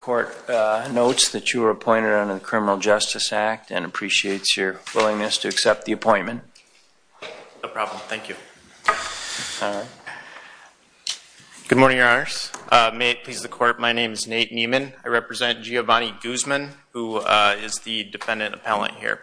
Court notes that you were appointed under the Criminal Justice Act and appreciates your willingness to accept the appointment. No problem. Thank you. Good morning, Your Honors. May it please the Court, my name is Nate Nieman. I represent Giovany Guzman, who is the defendant appellant here.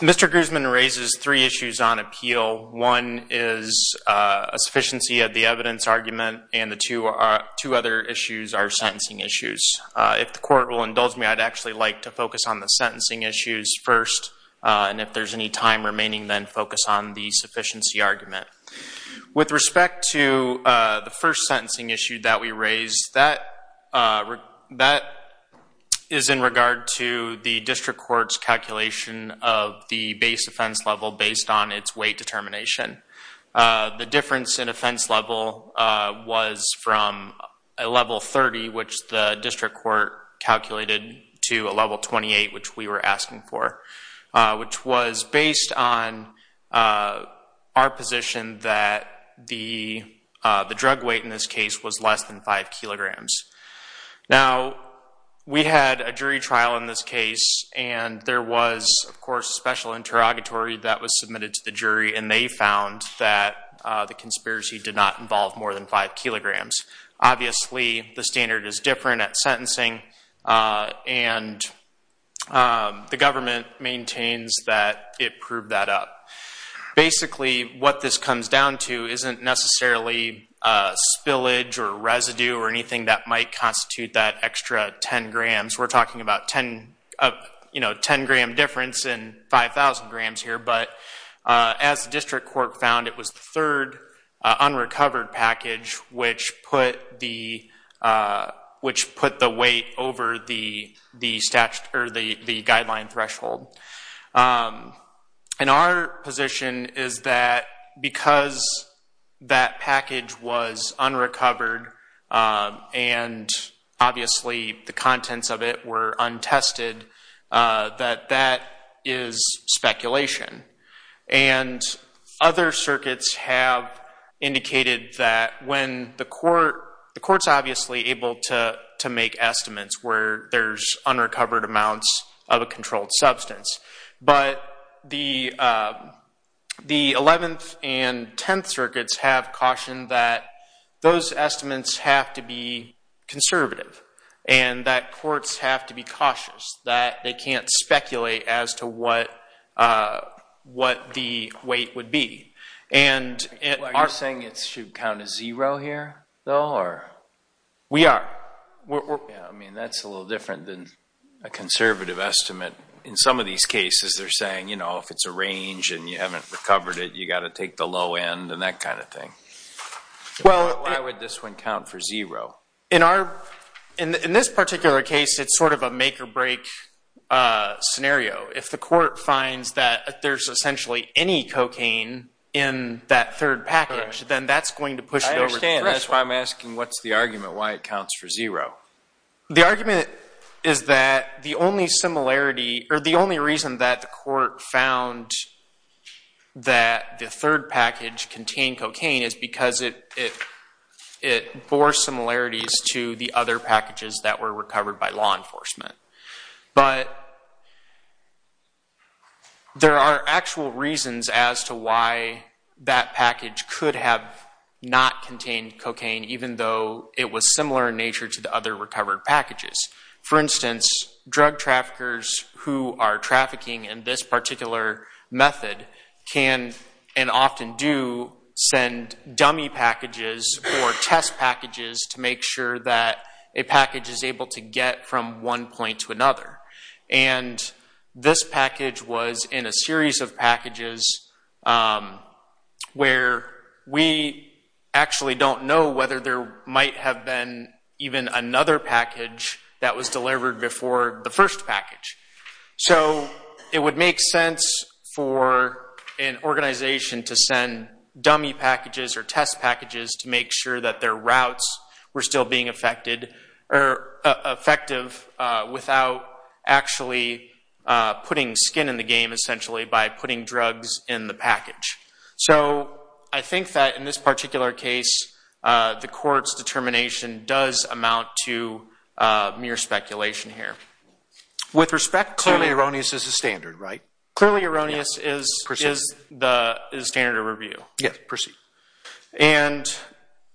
Mr. Guzman raises three issues on appeal. One is a sufficiency of the evidence argument, and the two other issues are sentencing issues. If the Court will indulge me, I'd actually like to focus on the sentencing issues first. And if there's any time remaining, then focus on the sufficiency argument. With respect to the first sentencing issue that we raised, that is in regard to the district court's calculation of the base offense level based on its weight determination. The difference in offense level was from a level 30, which the district court calculated, to a level 28, which we were asking for, which was based on our position that the drug weight in this case was less than 5 kilograms. Now, we had a jury trial in this case, and there was, of course, a special interrogatory that was submitted to the jury. And they found that the conspiracy did not involve more than 5 kilograms. Obviously, the standard is different at sentencing, and the government maintains that it proved that up. Basically, what this comes down to isn't necessarily spillage or residue or anything that might constitute that extra 10 grams. We're talking about 10 gram difference in 5,000 grams here, but as the district court found, it was the third unrecovered package which put the weight over the guideline threshold. And our position is that because that package was unrecovered and obviously the contents of it were untested, that that is speculation. And other circuits have indicated that when the court's obviously able to make estimates where there's unrecovered amounts of a controlled substance. But the 11th and 10th circuits have cautioned that those estimates have to be conservative and that courts have to be cautious, that they can't speculate as to what the weight would be. And it aren't saying it should count as zero here, though, or? We are. I mean, that's a little different than a conservative estimate. In some of these cases, they're saying if it's a range and you haven't recovered it, you've got to take the low end and that kind of thing. Well, why would this one count for zero? In this particular case, it's sort of a make or break scenario. If the court finds that there's essentially any cocaine in that third package, then that's going to push it over the threshold. I understand. That's why I'm asking, what's the argument? Why it counts for zero? The argument is that the only reason that the court found that the third package contained cocaine is because it bore similarities to the other packages that were recovered by law enforcement. But there are actual reasons as to why that package could have not contained cocaine, even though it was similar in nature to the other recovered packages. For instance, drug traffickers who are trafficking in this particular method can and often do send dummy packages or test packages to make sure that a package is able to get from one point to another. And this package was in a series of packages where we actually don't know whether there might have been even another package that was delivered before the first package. So it would make sense for an organization to send dummy packages or test packages to make sure that their routes were still being effective without actually putting skin in the game, essentially, by putting drugs in the package. So I think that in this particular case, the court's determination does amount to mere speculation here. With respect to- Clearly erroneous is the standard, right? Clearly erroneous is the standard of review. Yes, proceed. And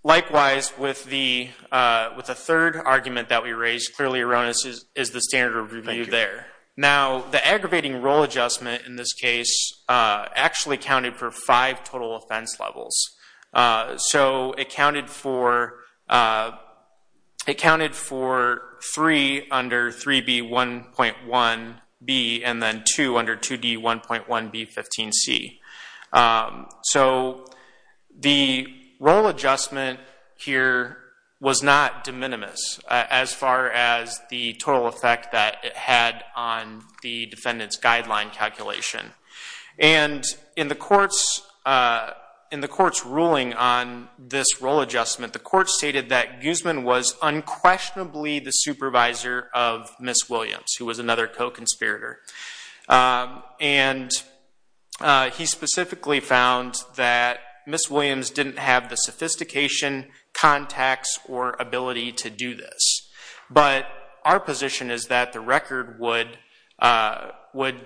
likewise, with the third argument that we raised, clearly erroneous is the standard of review there. Now, the aggravating role adjustment in this case actually counted for five total offense levels. So it counted for three under 3B1.1B and then two under 2D1.1B15C. So the role adjustment here was not de minimis as far as the total effect that it had on the defendant's guideline calculation. And in the court's ruling on this role adjustment, the court stated that Guzman was unquestionably the supervisor of Ms. Williams, who was another co-conspirator. And he specifically found that Ms. Williams didn't have the sophistication, contacts, or ability to do this. But our position is that the record would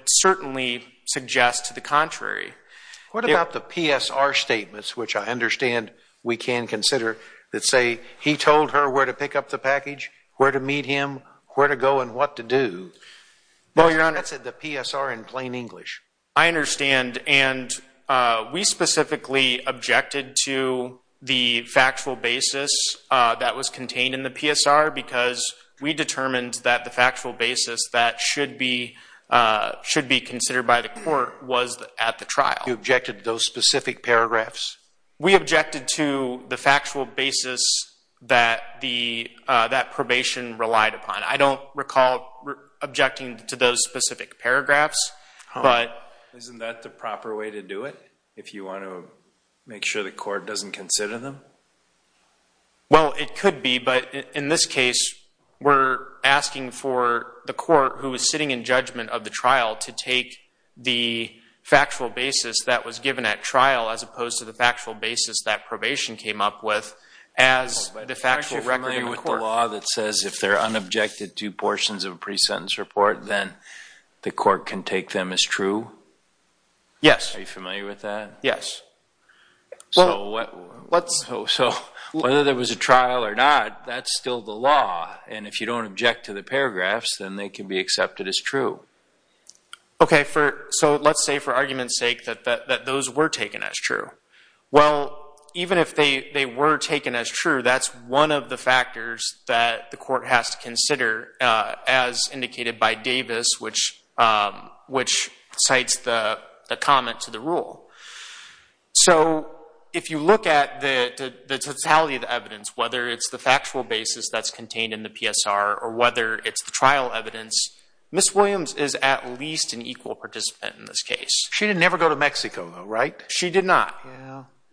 certainly suggest to the contrary. What about the PSR statements, which I understand we can consider, that say, he told her where to pick up the package, where to meet him, where to go, and what to do? Well, Your Honor, that's the PSR in plain English. I understand. And we specifically objected to the factual basis that was contained in the PSR. Because we determined that the factual basis that should be considered by the court was at the trial. You objected to those specific paragraphs? We objected to the factual basis that probation relied upon. I don't recall objecting to those specific paragraphs. Isn't that the proper way to do it, if you want to make sure the court doesn't consider them? Well, it could be. But in this case, we're asking for the court, who is sitting in judgment of the trial, to take the factual basis that was given at trial, as opposed to the factual basis that probation came up with, as the factual record in the court. Are you familiar with the law that says if they're unobjected to portions of a pre-sentence report, then the court can take them as true? Yes. Are you familiar with that? Yes. So whether there was a trial or not, that's still the law. And if you don't object to the paragraphs, then they can be accepted as true. OK, so let's say, for argument's sake, that those were taken as true. Well, even if they were taken as true, that's one of the factors that the court has to consider, as indicated by Davis, which cites the comment to the rule. So if you look at the totality of the evidence, whether it's the factual basis that's contained in the PSR, or whether it's the trial evidence, Ms. Williams is at least an equal participant in this case. She didn't ever go to Mexico, though, right? She did not.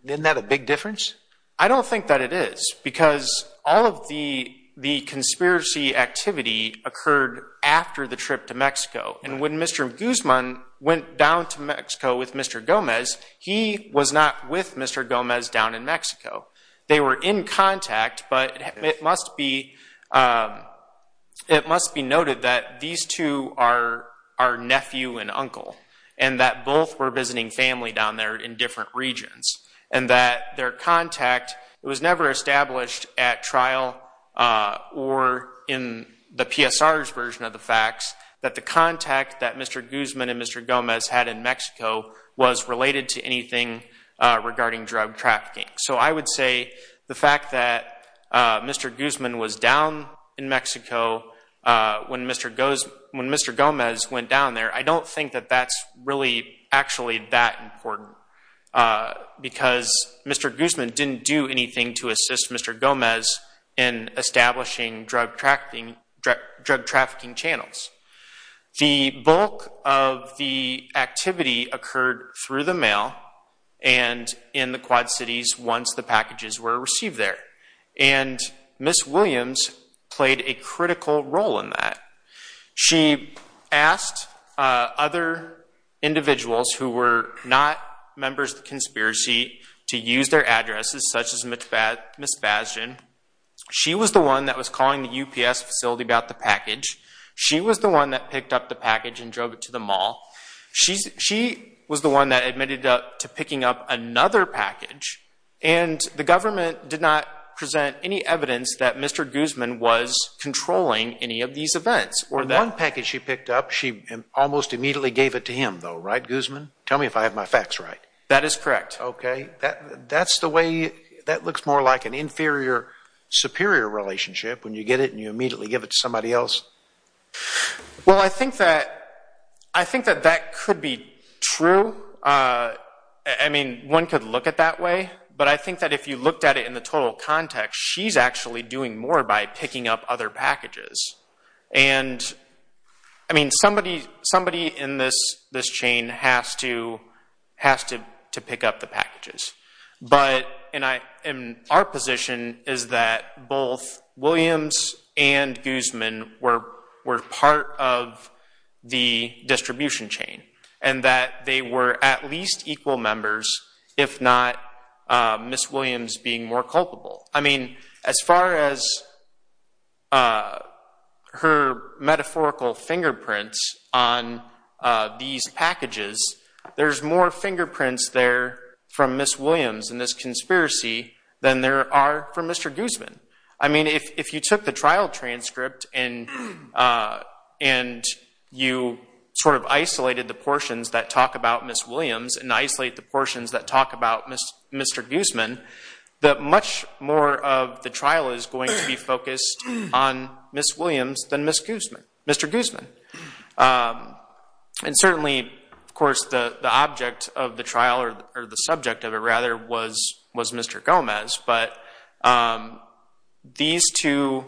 Isn't that a big difference? I don't think that it is. Because all of the conspiracy activity occurred after the trip to Mexico. And when Mr. Guzman went down to Mexico with Mr. Gomez, he was not with Mr. Gomez down in Mexico. They were in contact. But it must be noted that these two are nephew and uncle, and that both were visiting family down there in different regions, and that their contact was never established at trial, or in the PSR's version of the facts, that the contact that Mr. Guzman and Mr. Gomez had in Mexico was related to anything regarding drug trafficking. So I would say the fact that Mr. Guzman was down in Mexico when Mr. Gomez went down there, I don't think that that's really actually that important. Because Mr. Guzman didn't do anything to assist Mr. Gomez in establishing drug trafficking channels. The bulk of the activity occurred through the mail and in the Quad Cities once the packages were received there. And Ms. Williams played a critical role in that. She asked other individuals who were not members of the conspiracy to use their addresses, such as Ms. Bastian. She was the one that was calling the UPS facility about the package. She was the one that picked up the package and drove it to the mall. She was the one that admitted to picking up another package. And the government did not present any evidence that Mr. Guzman was controlling any of these events. The one package she picked up, she almost immediately gave it to him, though, right, Guzman? Tell me if I have my facts right. That is correct. OK. That looks more like an inferior-superior relationship when you get it and you immediately give it to somebody else. Well, I think that that could be true. I mean, one could look at it that way. But I think that if you looked at it in the total context, she's actually doing more by picking up other packages. And I mean, somebody in this chain has to pick up the packages. But our position is that both Williams and Guzman were part of the distribution chain and that they were at least equal members, if not Ms. Williams being more culpable. I mean, as far as her metaphorical fingerprints on these packages, there's more fingerprints there from Ms. Williams in this conspiracy than there are from Mr. Guzman. I mean, if you took the trial transcript and you sort of isolated the portions that talk about Ms. Williams and isolate the portions that talk about Mr. Guzman, much more of the trial is going to be focused on Ms. Williams than Mr. Guzman. And certainly, of course, the object of the trial or the subject of it, rather, was Mr. Gomez. But these two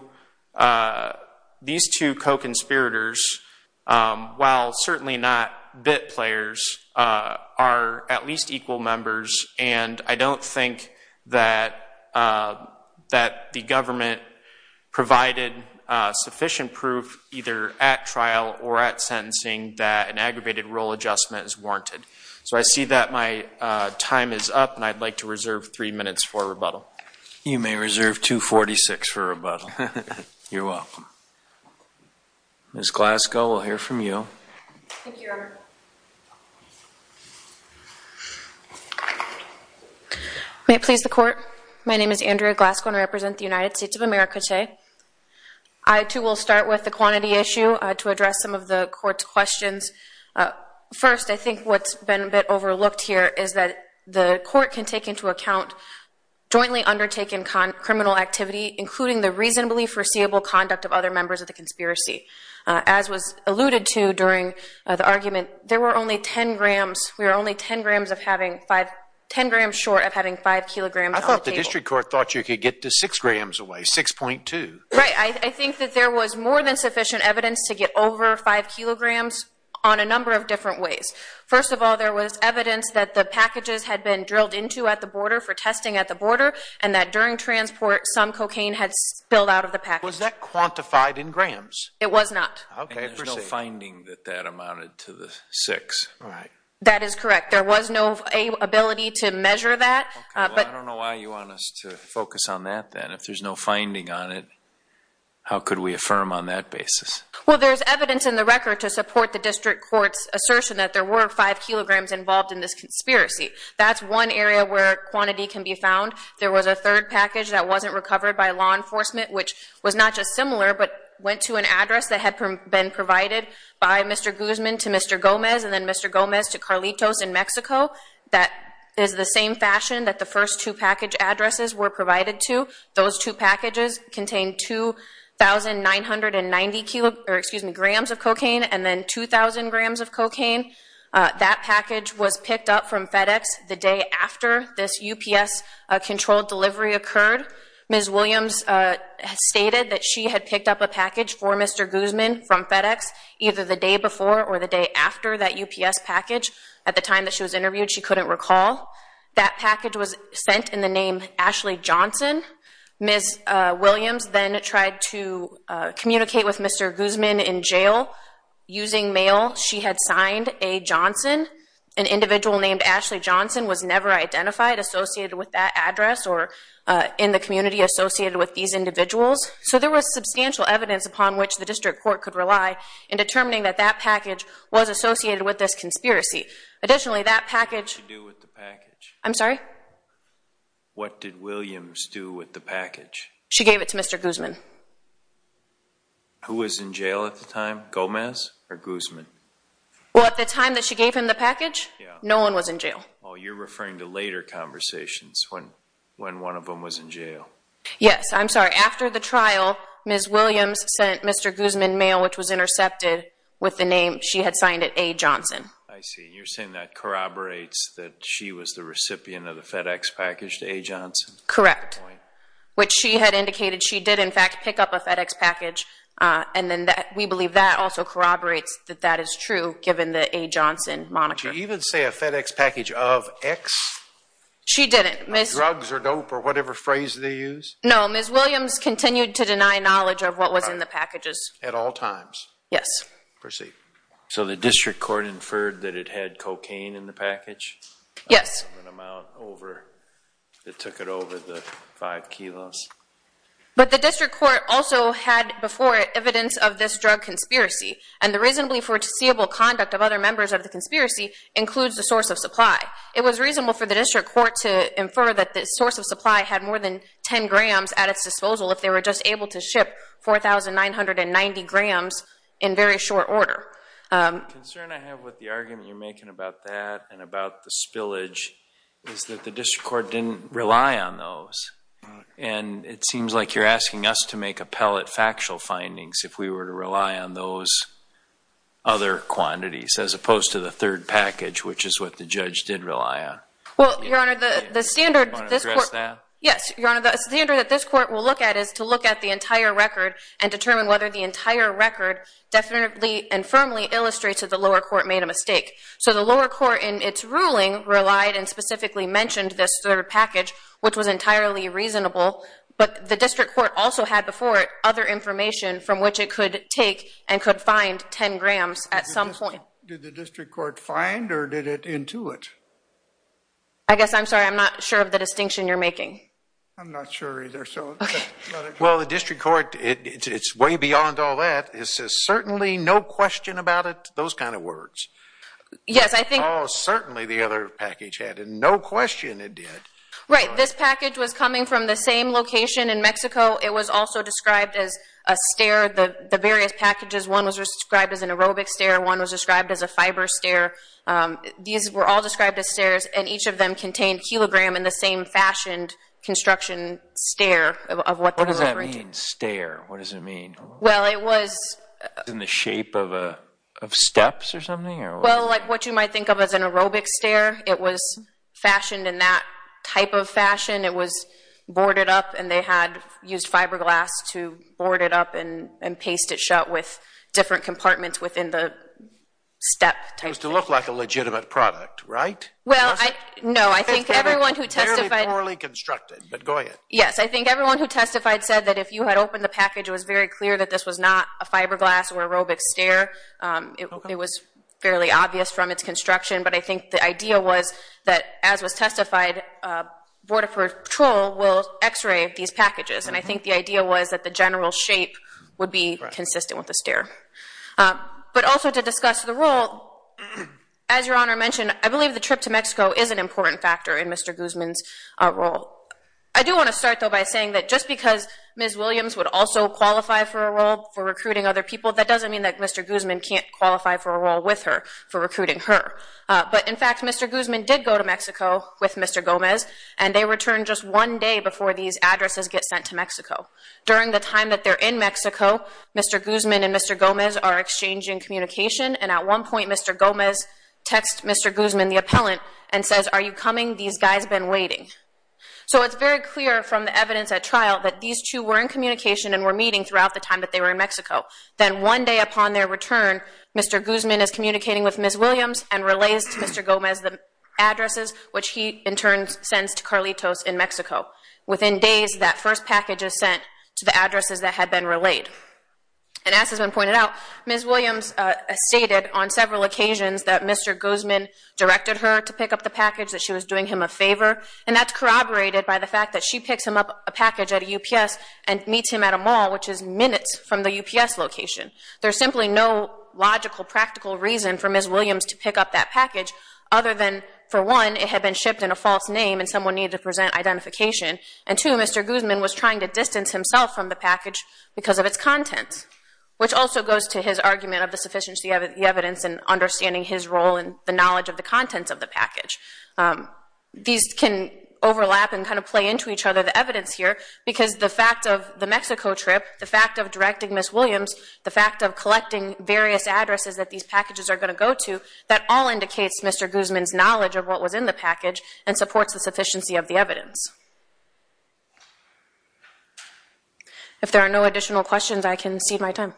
co-conspirators, while certainly not bit players, are at least equal members. And I don't think that the government provided sufficient proof, either at trial or at sentencing, that an aggravated rule adjustment is warranted. So I see that my time is up, and I'd like to reserve three minutes for rebuttal. You may reserve 246 for rebuttal. You're welcome. Ms. Glasgow, we'll hear from you. Thank you, Your Honor. May it please the court, my name is Andrea Glasgow, and I represent the United States of America today. to address some of the court's questions. First, I think what's been a bit overlooked here is that the court can take into account jointly undertaken criminal activity, including the reasonably foreseeable conduct of other members of the conspiracy. As was alluded to during the argument, there were only 10 grams. We were only 10 grams short of having 5 kilograms on the table. I thought the district court thought you could get to 6 grams away, 6.2. Right, I think that there was more than sufficient evidence to get over 5 kilograms on a number of different ways. First of all, there was evidence that the packages had been drilled into at the border for testing at the border, and that during transport, some cocaine had spilled out of the package. Was that quantified in grams? It was not. OK, per se. And there's no finding that that amounted to the 6. Right. That is correct. There was no ability to measure that, but. I don't know why you want us to focus on that then. If there's no finding on it, how could we affirm on that basis? Well, there's evidence in the record to support the district court's assertion that there were 5 kilograms involved in this conspiracy. That's one area where quantity can be found. There was a third package that wasn't recovered by law enforcement, which was not just similar, but went to an address that had been provided by Mr. Guzman to Mr. Gomez, and then Mr. Gomez to Carlitos in Mexico. That is the same fashion that the first two package addresses were provided to. Those two packages contained 2,990 grams of cocaine, and then 2,000 grams of cocaine. That package was picked up from FedEx the day after this UPS controlled delivery occurred. Ms. Williams stated that she had picked up a package for Mr. Guzman from FedEx, either the day before or the day after that UPS package. At the time that she was interviewed, she couldn't recall. That package was sent in the name Ashley Johnson. Ms. Williams then tried to communicate with Mr. Guzman in jail. Using mail, she had signed A. Johnson. An individual named Ashley Johnson was never identified associated with that address or in the community associated with these individuals. So there was substantial evidence upon which the district court could rely in determining that that package was associated with this conspiracy. Additionally, that package. What did she do with the package? I'm sorry? What did Williams do with the package? She gave it to Mr. Guzman. Who was in jail at the time, Gomez or Guzman? Well, at the time that she gave him the package, no one was in jail. Oh, you're referring to later conversations, when one of them was in jail. Yes, I'm sorry. After the trial, Ms. Williams sent Mr. Guzman mail, which was intercepted, with the name she had signed it A. Johnson. I see. You're saying that corroborates that she was the recipient of the FedEx package to A. Johnson? Correct. Which she had indicated she did, in fact, pick up a FedEx package. And then we believe that also corroborates that that is true, given the A. Johnson monitor. Did she even say a FedEx package of X? She didn't. Drugs or dope or whatever phrase they use? No, Ms. Williams continued to deny knowledge of what was in the packages. At all times? Yes. Proceed. So the district court inferred that it had cocaine in the package? Yes. It took it over the five kilos? But the district court also had before it evidence of this drug conspiracy. And the reasonably foreseeable conduct of other members of the conspiracy includes the source of supply. It was reasonable for the district court to infer that the source of supply had more than 10 grams at its disposal if they were just able to ship 4,990 grams in very short order. The concern I have with the argument you're making about that and about the spillage is that the district court didn't rely on those. And it seems like you're asking us to make appellate factual findings if we were to rely on those other quantities, as opposed to the third package, which is what the judge did rely on. Well, Your Honor, the standard that this court will look at is to look at the entire record and determine whether the entire record definitely and firmly illustrates that the lower court made a mistake. So the lower court, in its ruling, relied and specifically mentioned this third package, which was entirely reasonable. But the district court also had before it other information from which it could take and could find 10 grams at some point. Did the district court find, or did it intuit? I guess I'm sorry. I'm not sure of the distinction you're making. I'm not sure either, so let it go. Well, the district court, it's way beyond all that. It says, certainly, no question about it, those kind of words. Yes, I think. Certainly, the other package had a no question it did. Right, this package was coming from the same location in Mexico. It was also described as a stair. The various packages, one was described as an aerobic stair, one was described as a fiber stair. These were all described as stairs, and each of them contained kilogram in the same fashioned construction stair of what they were referring to. What does that mean, stair? What does it mean? Well, it was in the shape of steps or something? Well, like what you might think of as an aerobic stair. It was fashioned in that type of fashion. It was boarded up, and they had used fiberglass to board it up and paste it shut with different compartments within the step type thing. It was to look like a legitimate product, right? Well, no. I think everyone who testified. Fairly poorly constructed, but go ahead. Yes, I think everyone who testified said that if you had opened the package, it was very clear that this was not a fiberglass or aerobic stair. It was fairly obvious from its construction, but I think the idea was that, as was testified, Border Patrol will x-ray these packages. And I think the idea was that the general shape would be consistent with the stair. But also to discuss the rule, as Your Honor mentioned, I believe the trip to Mexico is an important factor in Mr. Guzman's role. I do want to start, though, by saying that just because Ms. Williams would also qualify for a role for recruiting other people, that doesn't mean that Mr. Guzman can't qualify for a role with her for recruiting her. But in fact, Mr. Guzman did go to Mexico with Mr. Gomez, and they returned just one day before these addresses get sent to Mexico. During the time that they're in Mexico, Mr. Guzman and Mr. Gomez are exchanging communication. And at one point, Mr. Gomez texts Mr. Guzman, the appellant, and says, are you coming? These guys have been waiting. So it's very clear from the evidence at trial that these two were in communication and were meeting throughout the time that they were in Mexico. Then one day upon their return, Mr. Guzman is communicating with Ms. Williams and relays to Mr. Gomez the addresses, which he, in turn, sends to Carlitos in Mexico. Within days, that first package is sent to the addresses that had been relayed. And as has been pointed out, Ms. Williams stated on several occasions that Mr. Guzman directed her to pick up the package, that she was doing him a favor. And that's corroborated by the fact that she picks him up a package at a UPS and meets him at a mall, which is minutes from the UPS location. There's simply no logical, practical reason for Ms. Williams to pick up that package other than, for one, it had been shipped in a false name and someone needed to present identification. And two, Mr. Guzman was trying to distance himself from the package because of its content, which also goes to his argument of the sufficiency of the evidence and understanding his role and the knowledge of the contents of the package. These can overlap and kind of play into each other, the evidence here, because the fact of the Mexico trip, the fact of directing Ms. Williams, the fact of collecting various addresses that these packages are going to go to, that all indicates Mr. Guzman's knowledge of what was in the package and supports the sufficiency of the evidence. If there are no additional questions, I can cede my time.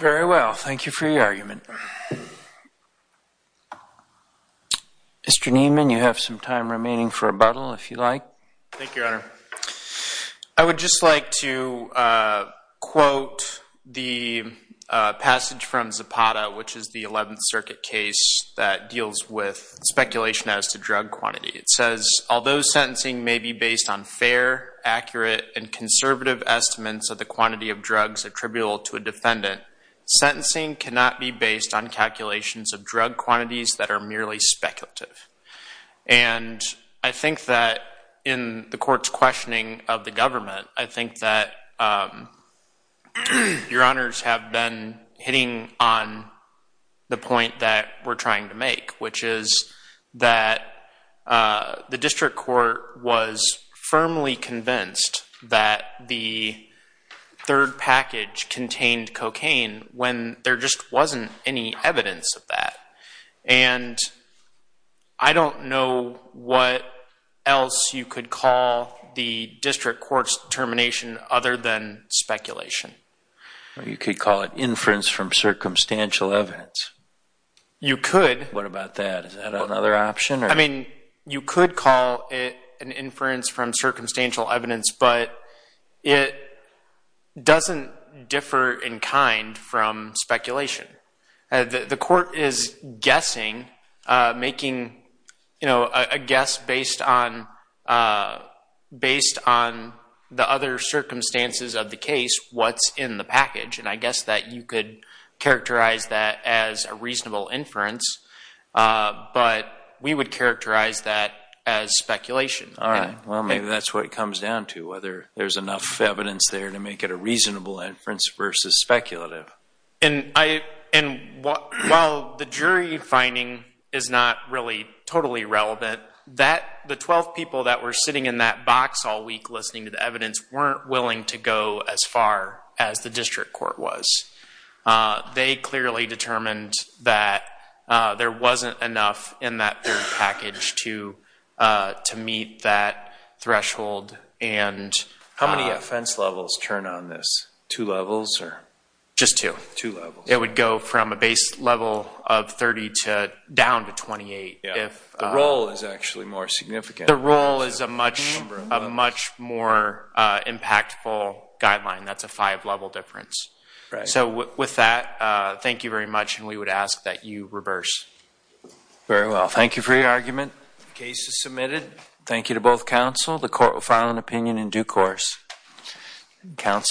Very well. Thank you for your argument. Mr. Niemann, you have some time remaining for rebuttal, if you'd like. Thank you, Your Honor. I would just like to quote the passage from Zapata, which is the 11th Circuit case that deals with speculation as to drug quantity. It says, although sentencing may be based on fair, accurate, and conservative estimates of the quantity of drugs attributable to a defendant, sentencing cannot be based on calculations of drug quantities that are merely speculative. And I think that in the court's questioning of the government, I think that Your Honors have been hitting on the point that we're trying to make, which is that the district court was firmly convinced that the third package contained cocaine when there just wasn't any evidence of that. And I don't know what else you could call the district court's determination other than speculation. You could call it inference from circumstantial evidence. You could. What about that? Is that another option? You could call it an inference from circumstantial evidence, but it doesn't differ in kind from speculation. The court is guessing, making a guess based on the other circumstances of the case, what's in the package. And I guess that you could characterize that as a reasonable inference. But we would characterize that as speculation. All right. Well, maybe that's what it comes down to, whether there's enough evidence there to make it a reasonable inference versus speculative. And while the jury finding is not really totally relevant, the 12 people that were sitting in that box all week listening to the evidence weren't willing to go as far as the district court was. They clearly determined that there wasn't enough in that third package to meet that threshold. How many offense levels turn on this? Two levels or? Just two. Two levels. It would go from a base level of 30 down to 28. The role is actually more significant. The role is a much more impactful guideline. That's a five level difference. So with that, thank you very much. And we would ask that you reverse. Very well. Thank you for your argument. Case is submitted. Thank you to both counsel. The court will file an opinion in due course. Counsel.